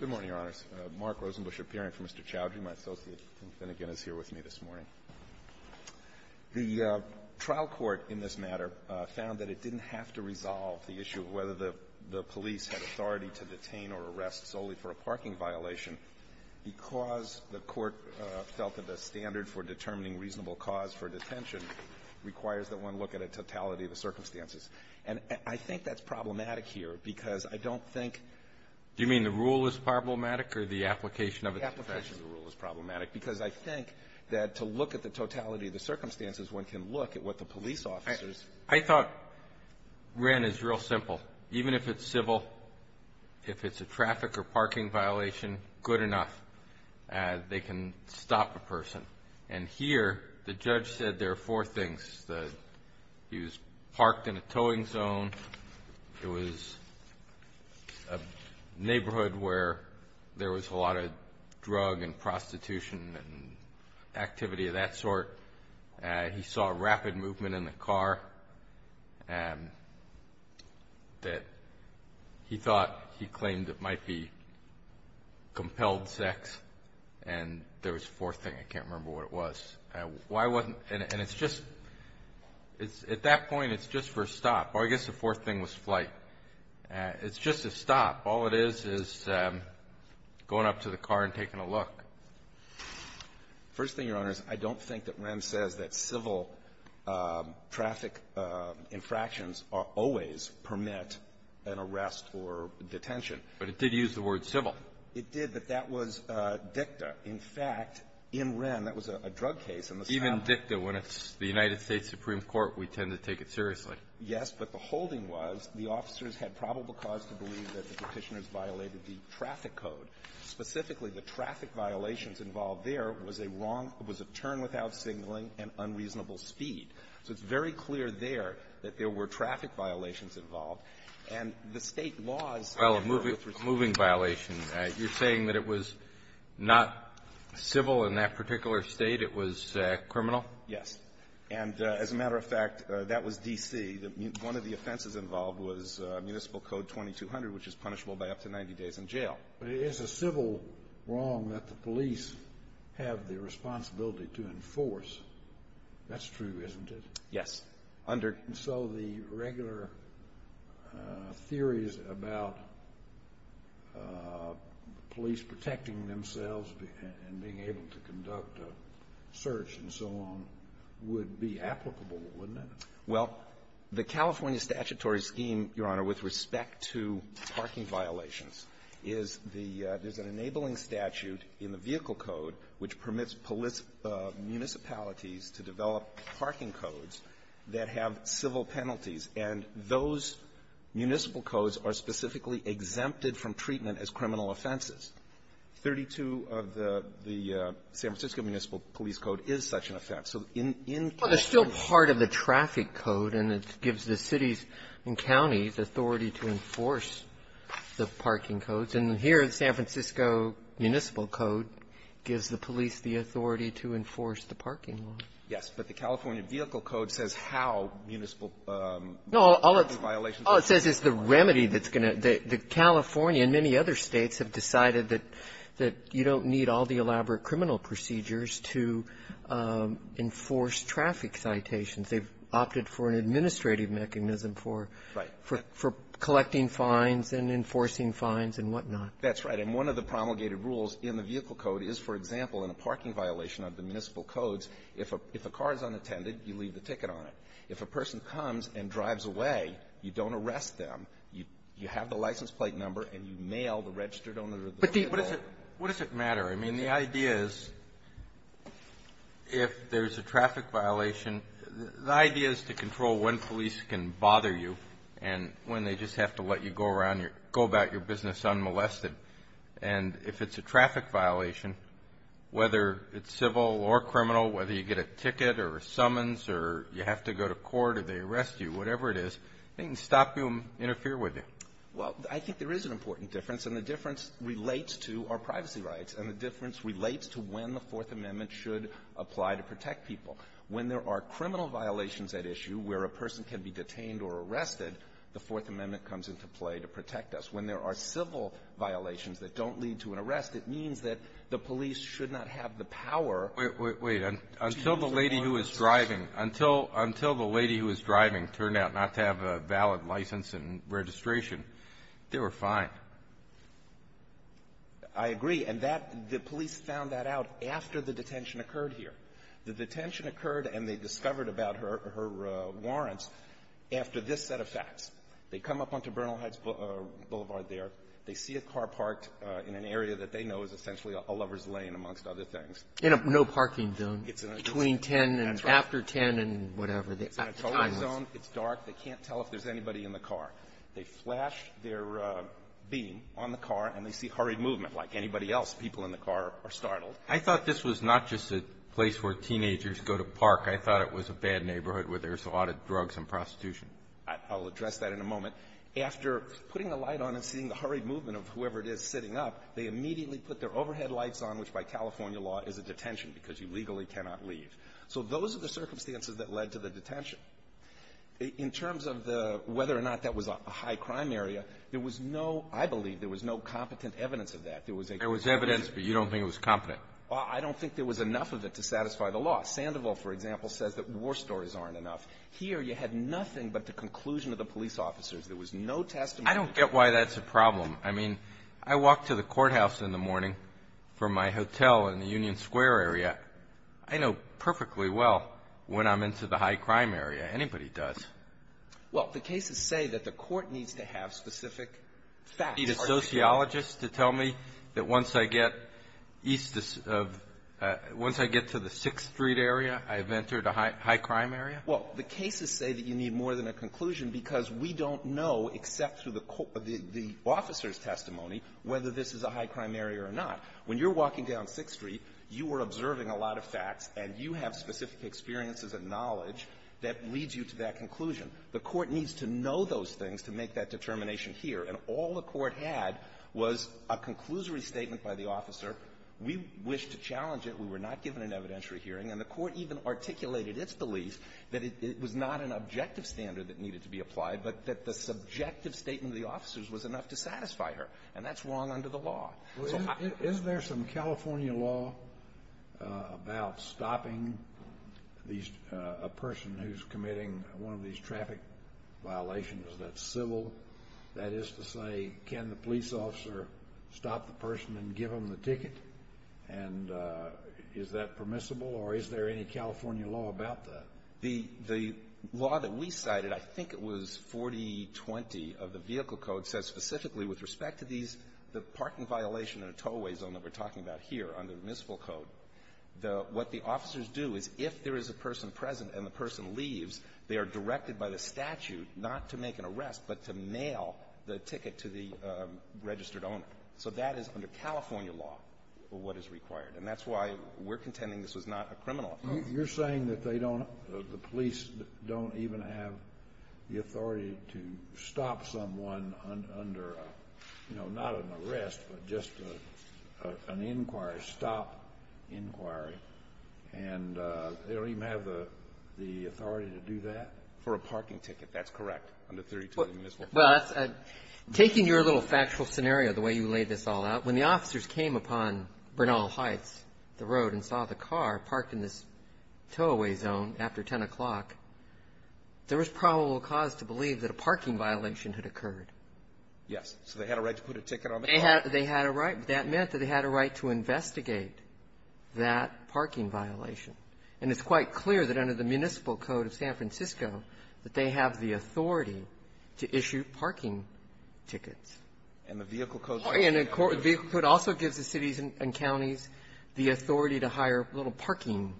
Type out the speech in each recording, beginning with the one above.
Good morning, Your Honors. Mark Rosenbusch, appearing for Mr. Choudhry. My associate, Tim Finnegan, is here with me this morning. The trial court in this matter found that it didn't have to resolve the issue of whether the police had authority to detain or arrest solely for a parking violation because the court felt that the standard for determining reasonable cause for detention requires that one look at a totality of the circumstances. And I think that's problematic here because I don't think the rule is problematic or the application of the rule is problematic because I think that to look at the totality of the circumstances, one can look at what the police officers. I thought Wren is real simple. Even if it's civil, if it's a traffic or parking violation, good enough. They can stop a person. And here, the judge said there are four things. He was parked in a towing zone. It was a neighborhood where there was a lot of drug and prostitution and activity of that sort. He saw rapid movement in the car that he thought he claimed it might be compelled sex. And there was a fourth thing. I can't remember what it was. Why wasn't – and it's just – at that point, it's just for a stop. Or I guess the fourth thing was flight. It's just a stop. All it is is going up to the car and taking a look. First thing, Your Honors, I don't think that Wren says that civil traffic infractions always permit an arrest or detention. But it did use the word civil. It did, but that was dicta. In fact, in Wren, that was a drug case in the South. Even dicta, when it's the United States Supreme Court, we tend to take it seriously. Yes. But the holding was the officers had probable cause to believe that the Petitioners violated the traffic code. Specifically, the traffic violations involved there was a wrong – was a turn without signaling and unreasonable speed. So it's very clear there that there were traffic violations involved. And the State laws – Well, a moving violation. You're saying that it was not civil in that particular state. It was criminal? Yes. And as a matter of fact, that was D.C. One of the offenses involved was Municipal Code 2200, which is punishable by up to 90 days in jail. But it is a civil wrong that the police have the responsibility to enforce. That's true, isn't it? Yes. So the regular theories about police protecting themselves and being able to conduct a search and so on would be applicable, wouldn't it? Well, the California statutory scheme, Your Honor, with respect to parking violations, is the – there's an enabling statute in the Vehicle Code which permits municipalities to develop parking codes that have civil penalties. And those municipal codes are specifically exempted from treatment as criminal offenses. 32 of the San Francisco Municipal Police Code is such an offense. So in – Well, they're still part of the traffic code, and it gives the cities and counties authority to enforce the parking codes. And here, the San Francisco Municipal Code gives the police the authority to enforce the parking law. Yes. But the California Vehicle Code says how municipal parking violations are punishable. No. All it says is the remedy that's going to – that California and many other States have decided that you don't need all the elaborate criminal procedures to enforce traffic citations. They've opted for an administrative mechanism for collecting fines and enforcing fines and whatnot. That's right. And one of the promulgated rules in the Vehicle Code is, for example, in a parking violation of the municipal codes, if a car is unattended, you leave the ticket on it. If a person comes and drives away, you don't arrest them. You have the license plate number, and you mail the registered owner of the vehicle. But the – What does it matter? I mean, the idea is, if there's a traffic violation, the idea is to control when police can bother you and when they just have to let you go around your – go about your business unmolested. And if it's a traffic violation, whether it's civil or criminal, whether you get a ticket or a summons or you have to go to court or they arrest you, whatever it is, they can stop you and interfere with you. Well, I think there is an important difference, and the difference relates to our privacy rights. And the difference relates to when the Fourth Amendment should apply to protect people. When there are criminal violations at issue where a person can be detained or arrested, the Fourth Amendment comes into play to protect us. When there are civil violations that don't lead to an arrest, it means that the police should not have the power to use a warrant. Wait. Until the lady who was driving – until the lady who was driving turned out not to have a valid license and registration, they were fine. I agree. And that – the police found that out after the detention occurred here. The detention occurred, and they discovered about her warrants after this set of facts. They come up onto Bernal Heights Boulevard there. They see a car parked in an area that they know is essentially a lover's lane, amongst other things. In a no-parking zone. It's in a – that's right. Between 10 and after 10 and whatever. It's in a total zone. It's dark. They can't tell if there's anybody in the car. They flash their beam on the car, and they see hurried movement. Like anybody else, people in the car are startled. I thought this was not just a place where teenagers go to park. I thought it was a bad neighborhood where there's a lot of drugs and prostitution. I'll address that in a moment. After putting the light on and seeing the hurried movement of whoever it is sitting up, they immediately put their overhead lights on, which by California law is a detention because you legally cannot leave. So those are the circumstances that led to the detention. In terms of the – whether or not that was a high-crime area, there was no – I believe there was no competent evidence of that. There was evidence, but you don't think it was competent. Well, I don't think there was enough of it to satisfy the law. Sandoval, for example, says that war stories aren't enough. Here you had nothing but the conclusion of the police officers. There was no testimony. I don't get why that's a problem. I mean, I walk to the courthouse in the morning from my hotel in the Union Square area. I know perfectly well when I'm into the high-crime area. Anybody does. Well, the cases say that the court needs to have specific facts. Do I need a sociologist to tell me that once I get east of – once I get to the 6th Street area, I've entered a high-crime area? Well, the cases say that you need more than a conclusion because we don't know, except through the officer's testimony, whether this is a high-crime area or not. When you're walking down 6th Street, you are observing a lot of facts, and you have specific experiences and knowledge that leads you to that conclusion. The court needs to know those things to make that determination here. And all the court had was a conclusory statement by the officer. We wish to challenge it. We were not given an evidentiary hearing. And the court even articulated its belief that it was not an objective standard that needed to be applied, but that the subjective statement of the officers was enough to satisfy her. And that's wrong under the law. Is there some California law about stopping a person who's committing one of these traffic violations that's civil? That is to say, can the police officer stop the person and give them the ticket? And is that permissible, or is there any California law about that? The law that we cited, I think it was 4020 of the Vehicle Code, says specifically with respect to the parking violation in a towway zone that we're talking about here under the Municipal Code, what the officers do is if there is a person present and the person leaves, they are directed by the statute not to make an effort to mail the ticket to the registered owner. So that is under California law what is required. And that's why we're contending this was not a criminal offense. You're saying that they don't, the police don't even have the authority to stop someone under, you know, not an arrest, but just an inquiry, stop inquiry, and they don't even have the authority to do that? For a parking ticket, that's correct, under 32 of the Municipal Code. But taking your little factual scenario, the way you laid this all out, when the officers came upon Bernal Heights, the road, and saw the car parked in this towway zone after 10 o'clock, there was probable cause to believe that a parking violation had occurred. Yes. So they had a right to put a ticket on the car? They had a right. That meant that they had a right to investigate that parking violation. And it's quite clear that under the Municipal Code of San Francisco that they have the authority to issue parking tickets. And the Vehicle Code also gives the cities and counties the authority to hire little parking,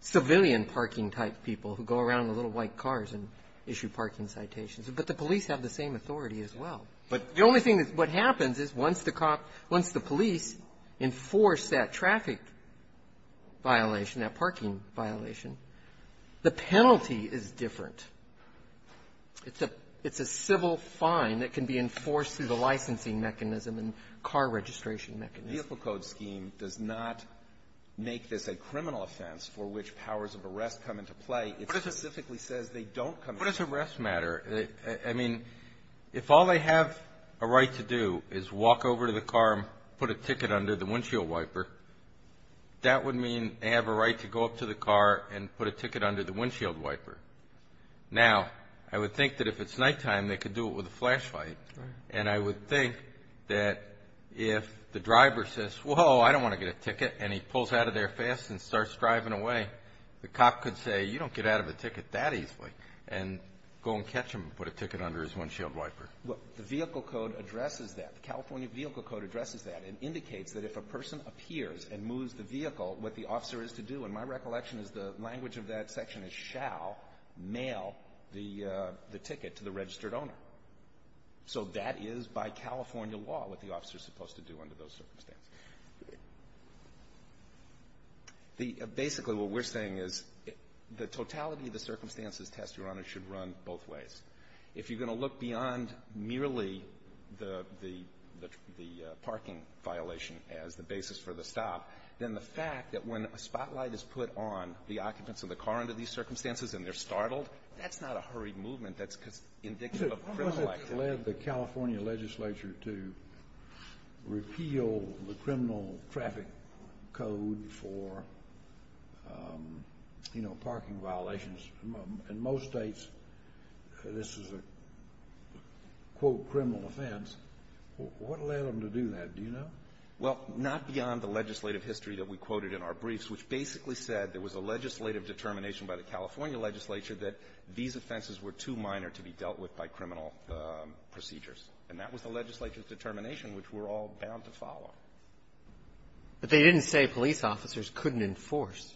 civilian parking-type people who go around in little white cars and issue parking citations. But the police have the same authority as well. But the only thing that happens is once the cop, once the police enforce that traffic violation, that parking violation, the penalty is different. It's a civil fine that can be enforced through the licensing mechanism and car registration mechanism. The Vehicle Code scheme does not make this a criminal offense for which powers of arrest come into play. It specifically says they don't come into play. What does arrest matter? I mean, if all they have a right to do is walk over to the car and put a ticket under the windshield wiper, that would mean they have a right to go up to the car and put a ticket under the windshield wiper. Now, I would think that if it's nighttime, they could do it with a flashlight. And I would think that if the driver says, whoa, I don't want to get a ticket, and he pulls out of there fast and starts driving away, the cop could say, you don't get out of a ticket that easily, and go and catch him and put a ticket under his windshield wiper. Well, the Vehicle Code addresses that. The California Vehicle Code addresses that and indicates that if a person appears and moves the vehicle, what the officer is to do, in my recollection, is the language of that section is shall mail the ticket to the registered owner. So that is by California law what the officer is supposed to do under those circumstances. Basically, what we're saying is the totality of the circumstances test, Your Honor, should run both ways. If you're going to look beyond merely the parking violation as the basis for the stop, then the fact that when a spotlight is put on the occupants of the car under these circumstances and they're startled, that's not a hurried movement. That's indicative of criminal activity. What was it that led the California legislature to repeal the criminal traffic code for, you know, parking violations? In most States, this is a, quote, criminal offense. What led them to do that? Do you know? Well, not beyond the legislative history that we quoted in our briefs, which basically said there was a legislative determination by the California legislature that these offenses were too minor to be dealt with by criminal procedures. And that was the legislature's determination, which we're all bound to follow. But they didn't say police officers couldn't enforce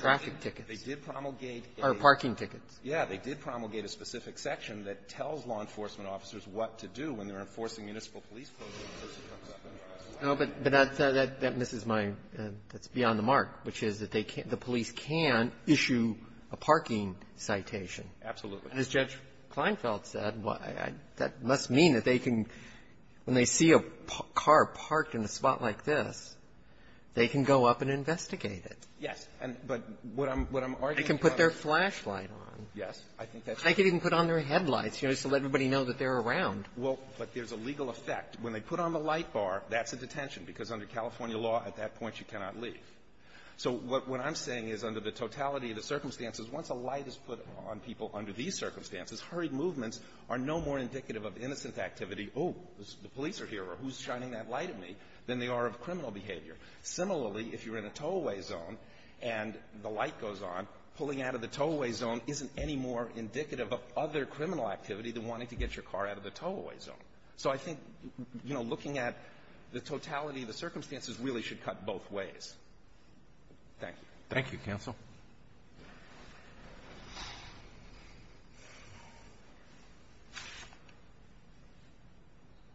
traffic tickets. They did promulgate a --- Or parking tickets. Yeah. They did promulgate a specific section that tells law enforcement officers what to do when they're enforcing municipal police codes. No, but that misses my ---- that's beyond the mark, which is that they can't ---- the police can issue a parking citation. Absolutely. And as Judge Kleinfeld said, that must mean that they can, when they see a car parked in a spot like this, they can go up and investigate it. Yes. And but what I'm arguing on is ---- They can put their flashlight on. Yes. I think that's right. They can even put on their headlights, you know, just to let everybody know that they're around. Well, but there's a legal effect. When they put on the light bar, that's a detention, because under California law, at that point, you cannot leave. So what I'm saying is, under the totality of the circumstances, once a light is put on people under these circumstances, hurried movements are no more indicative of innocent activity, oh, the police are here, or who's shining that light at me, than they are of criminal behavior. Similarly, if you're in a tow-away zone, and the light goes on, pulling out of the tow-away zone isn't any more indicative of other criminal activity than wanting to get your car out of the tow-away zone. So I think, you know, looking at the totality of the circumstances really should cut both ways. Thank you. Thank you, counsel.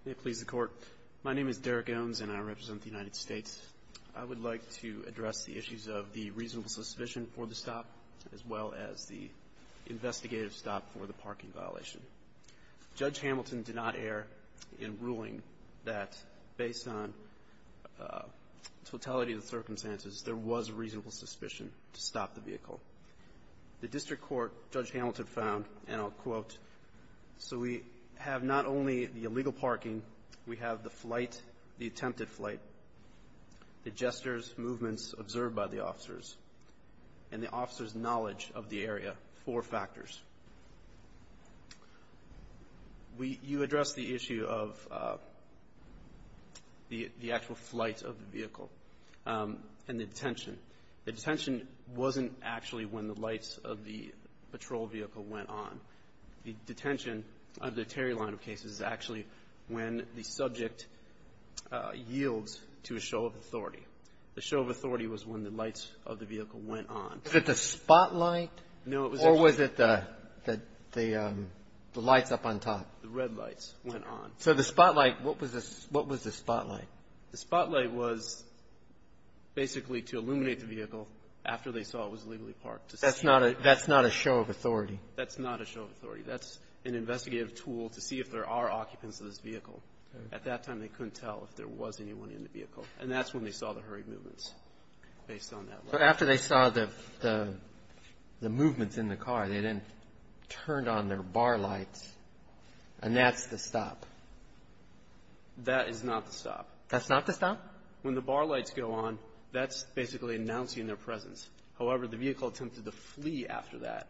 May it please the Court. My name is Derek Owens, and I represent the United States. I would like to address the issues of the reasonable suspicion for the stop, as well as the investigative stop for the parking violation. Judge Hamilton did not err in ruling that, based on totality of the circumstances, there was reasonable suspicion to stop the vehicle. The district court, Judge Hamilton found, and I'll quote, so we have not only the gestures, movements observed by the officers, and the officers' knowledge of the area, four factors. You addressed the issue of the actual flight of the vehicle, and the detention. The detention wasn't actually when the lights of the patrol vehicle went on. The detention of the Terry line of cases is actually when the show of authority was when the lights of the vehicle went on. Was it the spotlight, or was it the lights up on top? The red lights went on. So the spotlight, what was the spotlight? The spotlight was basically to illuminate the vehicle after they saw it was legally parked. That's not a show of authority. That's not a show of authority. That's an investigative tool to see if there are occupants of this vehicle. At that time, they couldn't tell if there was anyone in the vehicle. And that's when they saw the hurried movements, based on that light. But after they saw the movements in the car, they then turned on their bar lights, and that's the stop. That is not the stop. That's not the stop? When the bar lights go on, that's basically announcing their presence. However, the vehicle attempted to flee after that.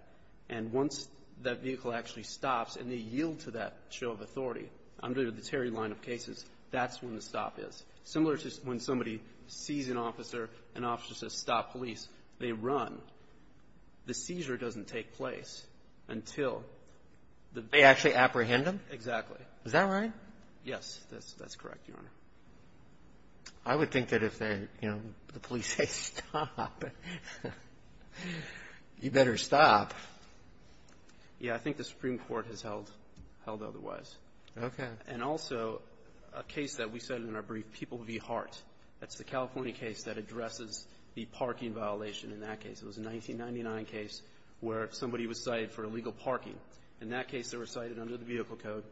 And once that vehicle actually stops and they yield to that show of authority under the Terry line of cases, that's when the stop is. Similar to when somebody sees an officer, an officer says, stop police, they run. The seizure doesn't take place until the... They actually apprehend them? Exactly. Is that right? Yes, that's correct, Your Honor. I would think that if the police say, stop, you better stop. Yeah, I think the Supreme Court has held otherwise. Okay. And also, a case that we cited in our brief, People v. Hart. That's the California case that addresses the parking violation in that case. It was a 1999 case where somebody was cited for illegal parking. In that case, they were cited under the vehicle code.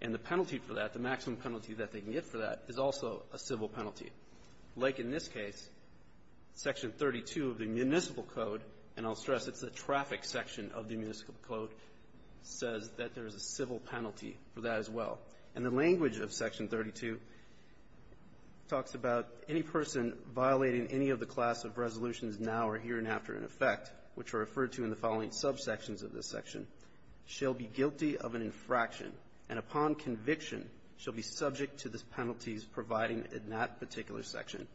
And the penalty for that, the maximum penalty that they can get for that, is also a civil penalty. Like in this case, Section 32 of the municipal code, and I'll stress it's the traffic section of the municipal code, says that there is a civil penalty for that as well. And the language of Section 32 talks about any person violating any of the class of resolutions now or here and after in effect, which are referred to in the following subsections of this section, shall be guilty of an infraction. And upon conviction, shall be subject to the penalties provided in that particular section.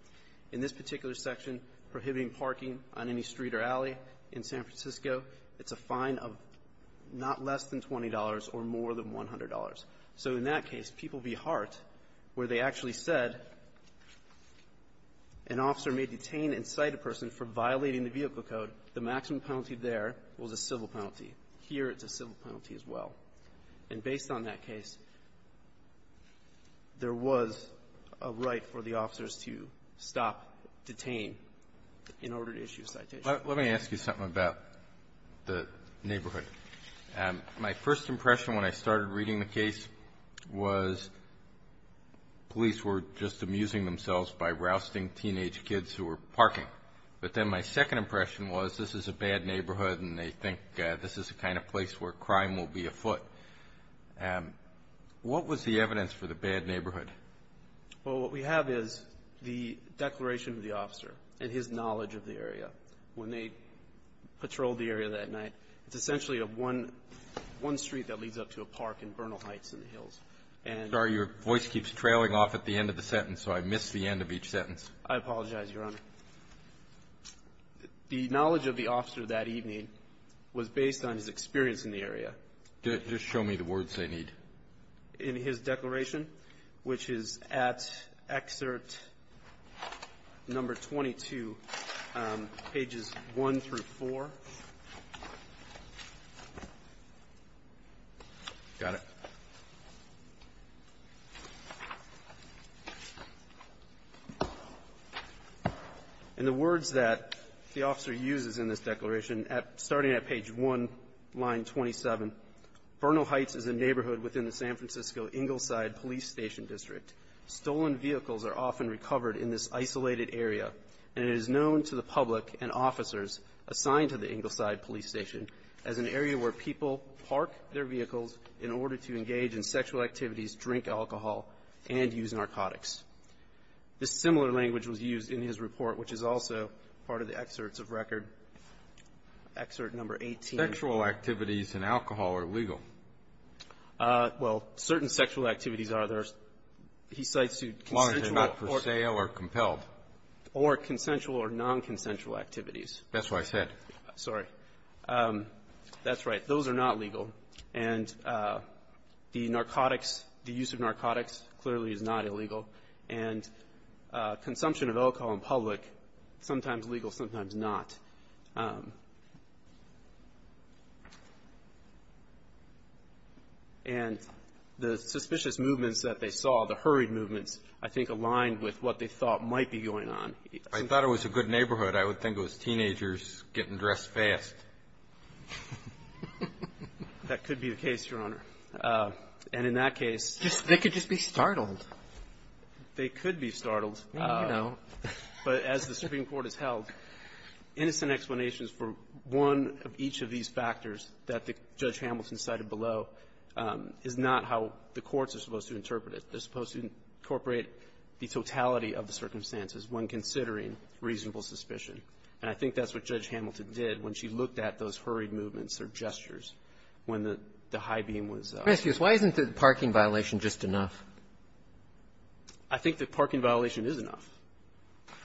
In this particular section, prohibiting parking on any street or alley in San Francisco, it's a fine of not less than $20 or more than $100. So in that case, People v. Hart, where they actually said an officer may detain and cite a person for violating the vehicle code, the maximum penalty there was a civil penalty. Here, it's a civil penalty as well. And based on that case, there was a right for the officers to stop, detain, in order to issue a citation. Let me ask you something about the neighborhood. My first impression when I started reading the case was police were just amusing themselves by rousting teenage kids who were parking. But then my second impression was this is a bad neighborhood, and they think this is the kind of place where crime will be afoot. What was the evidence for the bad neighborhood? Well, what we have is the declaration of the officer and his knowledge of the area when they patrolled the area that night. It's essentially one street that leads up to a park in Bernal Heights in the hills. Sorry, your voice keeps trailing off at the end of the sentence, so I miss the end of each sentence. I apologize, Your Honor. The knowledge of the officer that evening was based on his experience in the area. Just show me the words they need. In his declaration, which is at excerpt number 22, pages 1 through 4. Got it. In the words that the officer uses in this declaration, starting at page 1, line 27, This similar language was used in his report, which is also part of the excerpts of record, excerpt number 18. Sexual activities and alcohol are legal. Well, certain sexual activities are. He cites consensual or non-consensual activities. That's what I said. Sorry. That's right. Those are not legal. And the narcotics, the use of narcotics clearly is not illegal. And consumption of alcohol in public, sometimes legal, sometimes not. And the suspicious movements that they saw, the hurried movements, I think aligned with what they thought might be going on. I thought it was a good neighborhood. I would think it was teenagers getting dressed fast. That could be the case, Your Honor. And in that case, They could just be startled. They could be startled. Well, you know. But as the Supreme Court has held, innocent explanations for one of each of these factors that Judge Hamilton cited below is not how the courts are supposed to interpret it. They're supposed to incorporate the totality of the circumstances when considering reasonable suspicion. And I think that's what Judge Hamilton did when she looked at those hurried movements or gestures when the high beam was up. Isn't the parking violation just enough? I think the parking violation is enough.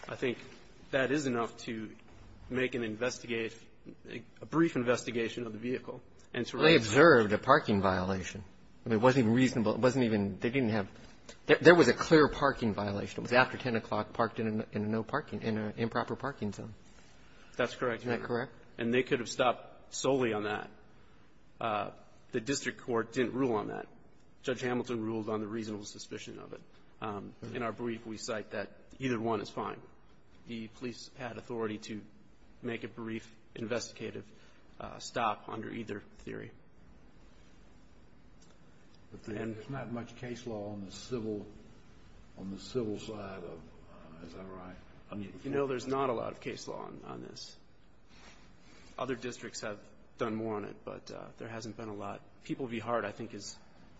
I think that is enough to make an investigation a brief investigation of the vehicle and to raise Well, they observed a parking violation. It wasn't even reasonable. It wasn't even they didn't have there was a clear parking violation. It was after 10 o'clock parked in a no parking in an improper parking zone. That's correct, Your Honor. Isn't that correct? And they could have stopped solely on that. The district court didn't rule on that. Judge Hamilton ruled on the reasonable suspicion of it. In our brief, we cite that either one is fine. The police had authority to make a brief investigative stop under either theory. But there's not much case law on the civil side of, is that right? You know, there's not a lot of case law on this. Other districts have done more on it, but there hasn't been a lot. People v. Hart, I think, is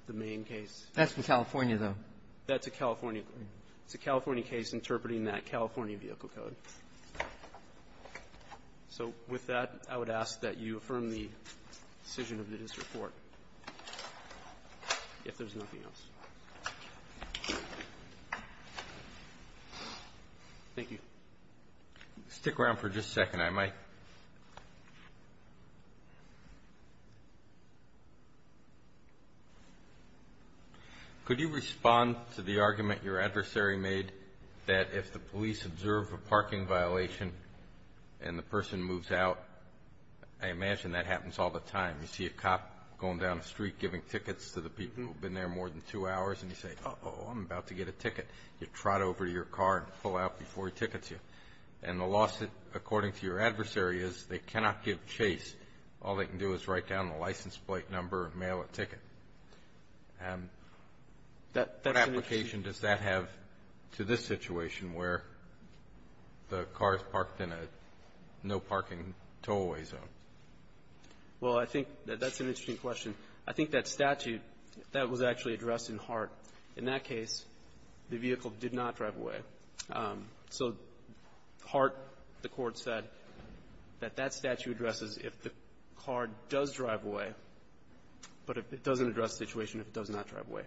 the main case. That's in California, though. That's a California case. It's a California case interpreting that California vehicle code. So with that, I would ask that you affirm the decision of the district court, if there's nothing else. Thank you. Stick around for just a second. I might. Could you respond to the argument your adversary made that if the police observe a parking violation and the person moves out? I imagine that happens all the time. You see a cop going down the street giving tickets to the people who've been there more than two hours, and you say, uh-oh, I'm about to get a ticket. You trot over to your car and pull out before he tickets you. And the lawsuit, according to your adversary, is they cannot give chase. All they can do is write down the license plate number and mail a ticket. What application does that have to this situation where the car is parked in a no-parking tow-way zone? Well, I think that's an interesting question. I think that statute, that was actually addressed in Hart. In that case, the vehicle did not drive away. So Hart, the court said, that that statute addresses if the car does drive away, but it doesn't address the situation if it does not drive away.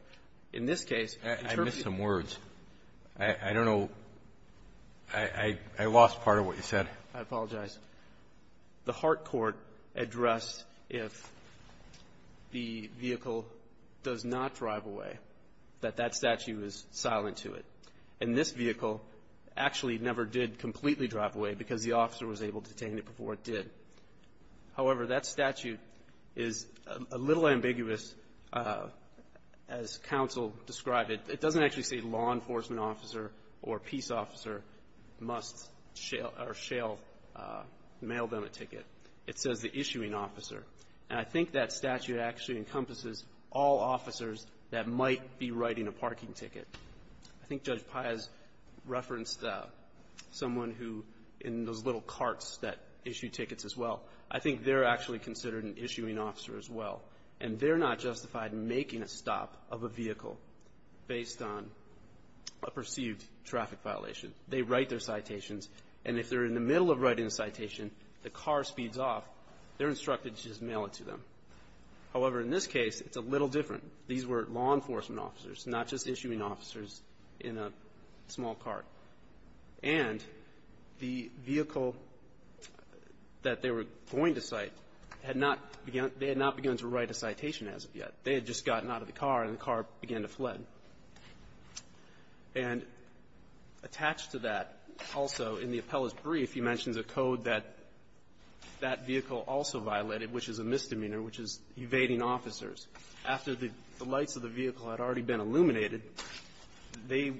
In this case, interpret the lawsuit as if the vehicle did not drive away. I missed some words. I don't know. I lost part of what you said. I apologize. The Hart court addressed if the vehicle does not drive away, that that statute is silent to it. And this vehicle actually never did completely drive away because the officer was able to detain it before it did. However, that statute is a little ambiguous, as counsel described it. It doesn't actually say law enforcement officer or peace officer must shale, or shale, mail them a ticket. It says the issuing officer. And I think that statute actually encompasses all officers that might be writing a parking ticket. I think Judge Pai has referenced someone who, in those little carts that issue tickets as well, I think they're actually considered an issuing officer as well. And they're not justified in making a stop of a vehicle based on a perceived traffic violation. They write their citations. And if they're in the middle of writing a citation, the car speeds off, they're instructed to just mail it to them. However, in this case, it's a little different. These were law enforcement officers, not just issuing officers in a small cart. And the vehicle that they were going to cite had not begun to write a citation as of yet. They had just gotten out of the car, and the car began to fled. And attached to that also in the appellant's brief, he mentions a code that that vehicle also violated, which is a misdemeanor, which is evading officers. After the lights of the vehicle had already been illuminated, they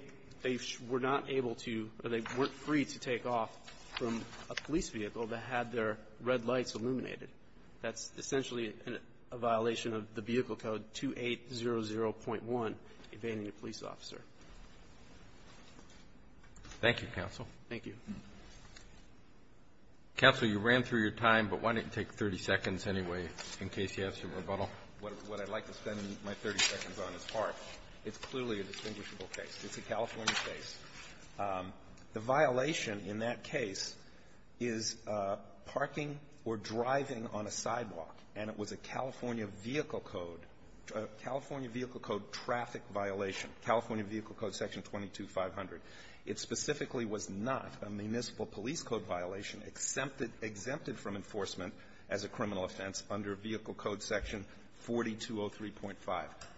were not able to, or they weren't free to take off from a police vehicle that had their red lights illuminated. That's essentially a violation of the vehicle code 2800.1, evading a police officer. Roberts. Thank you, counsel. Thank you. Counsel, you ran through your time, but why don't you take 30 seconds anyway, in case you have some rebuttal? What I'd like to spend my 30 seconds on is part. It's clearly a distinguishable case. It's a California case. The violation in that case is parking or driving on a sidewalk, and it was a California vehicle code, a California vehicle code traffic violation, California Vehicle Code Section 22500. It specifically was not a municipal police code violation, exempted from enforcement as a criminal offense under Vehicle Code Section 4203.5.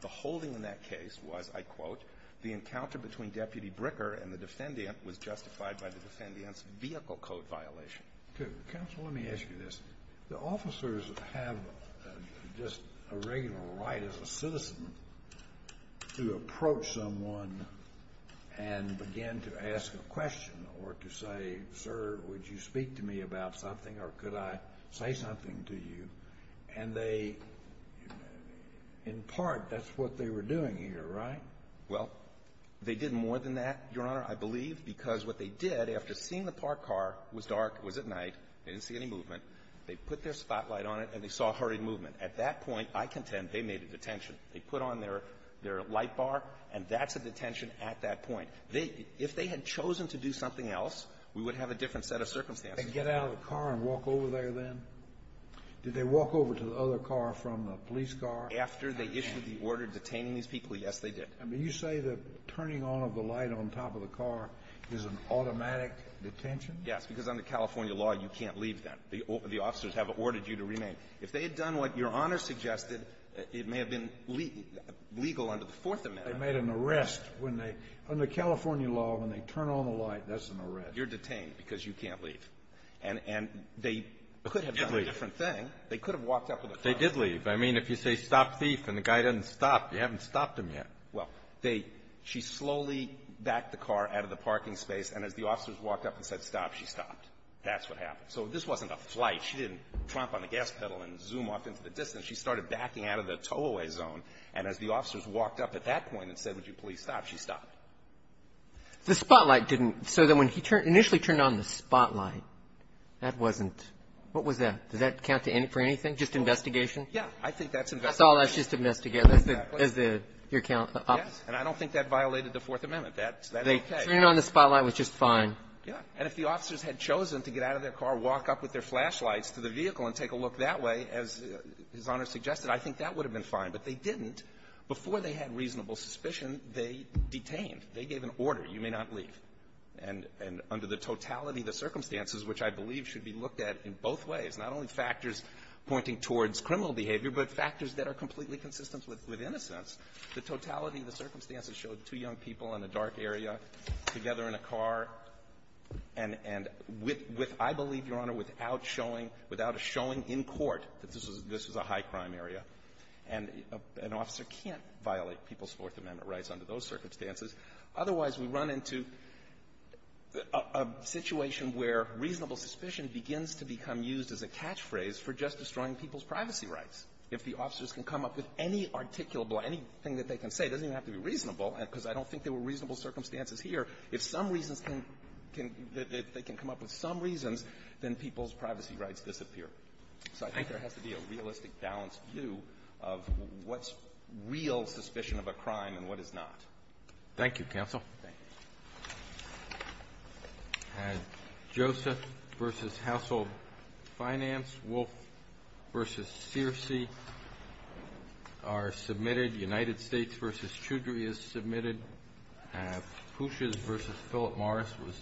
The holding in that case was, I quote, the encounter between Deputy Bricker and the defendant was justified by the defendant's vehicle code violation. Counsel, let me ask you this. The officers have just a regular right as a citizen to approach someone and begin to say something to you, and they, in part, that's what they were doing here, right? Well, they did more than that, Your Honor, I believe, because what they did, after seeing the parked car, it was dark, it was at night, they didn't see any movement, they put their spotlight on it, and they saw a hurrying movement. At that point, I contend, they made a detention. They put on their light bar, and that's a detention at that point. If they had chosen to do something else, we would have a different set of circumstances. Did they get out of the car and walk over there then? Did they walk over to the other car from the police car? After they issued the order detaining these people, yes, they did. I mean, you say the turning on of the light on top of the car is an automatic detention? Yes, because under California law, you can't leave that. The officers have ordered you to remain. If they had done what Your Honor suggested, it may have been legal under the Fourth Amendment. They made an arrest when they – under California law, when they turn on the light, that's an arrest. You're detained because you can't leave. And they could have done a different thing. They could have walked up with a phone. They did leave. I mean, if you say stop thief and the guy doesn't stop, you haven't stopped him yet. Well, they – she slowly backed the car out of the parking space, and as the officers walked up and said stop, she stopped. That's what happened. So this wasn't a flight. She didn't tromp on the gas pedal and zoom off into the distance. She started backing out of the tow-away zone. And as the officers walked up at that point and said, would you please stop, she stopped. The spotlight didn't – so then when he initially turned on the spotlight, that wasn't – what was that? Did that count for anything, just investigation? Yeah. I think that's investigation. That's all that's just investigation, is the – is the – your account. Yes. And I don't think that violated the Fourth Amendment. That's okay. They turned on the spotlight, which is fine. Yeah. And if the officers had chosen to get out of their car, walk up with their flashlights to the vehicle and take a look that way, as His Honor suggested, I think that would have been fine. But they didn't. Before they had reasonable suspicion, they detained. They gave an order. You may not leave. And – and under the totality of the circumstances, which I believe should be looked at in both ways, not only factors pointing towards criminal behavior, but factors that are completely consistent with innocence, the totality of the circumstances showed two young people in a dark area together in a car and – and with – I believe, Your Honor, without showing – without a showing in court that this was – this was a high-crime area. And an officer can't violate People's Fourth Amendment rights under those circumstances. Otherwise, we run into a situation where reasonable suspicion begins to become used as a catchphrase for just destroying people's privacy rights. If the officers can come up with any articulable – anything that they can say, it doesn't even have to be reasonable, because I don't think there were reasonable circumstances here. If some reasons can – they can come up with some reasons, then people's privacy rights disappear. So I think there has to be a realistic, balanced view of what's real suspicion of a crime and what is not. Thank you, Counsel. Thank you. And Joseph v. Household Finance, Wolf v. Searcy are submitted. United States v. Choudry is submitted. Pouches v. Philip Morris was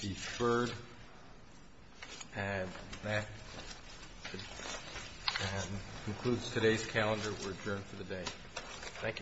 deferred. And that concludes today's calendar. We're adjourned for the day.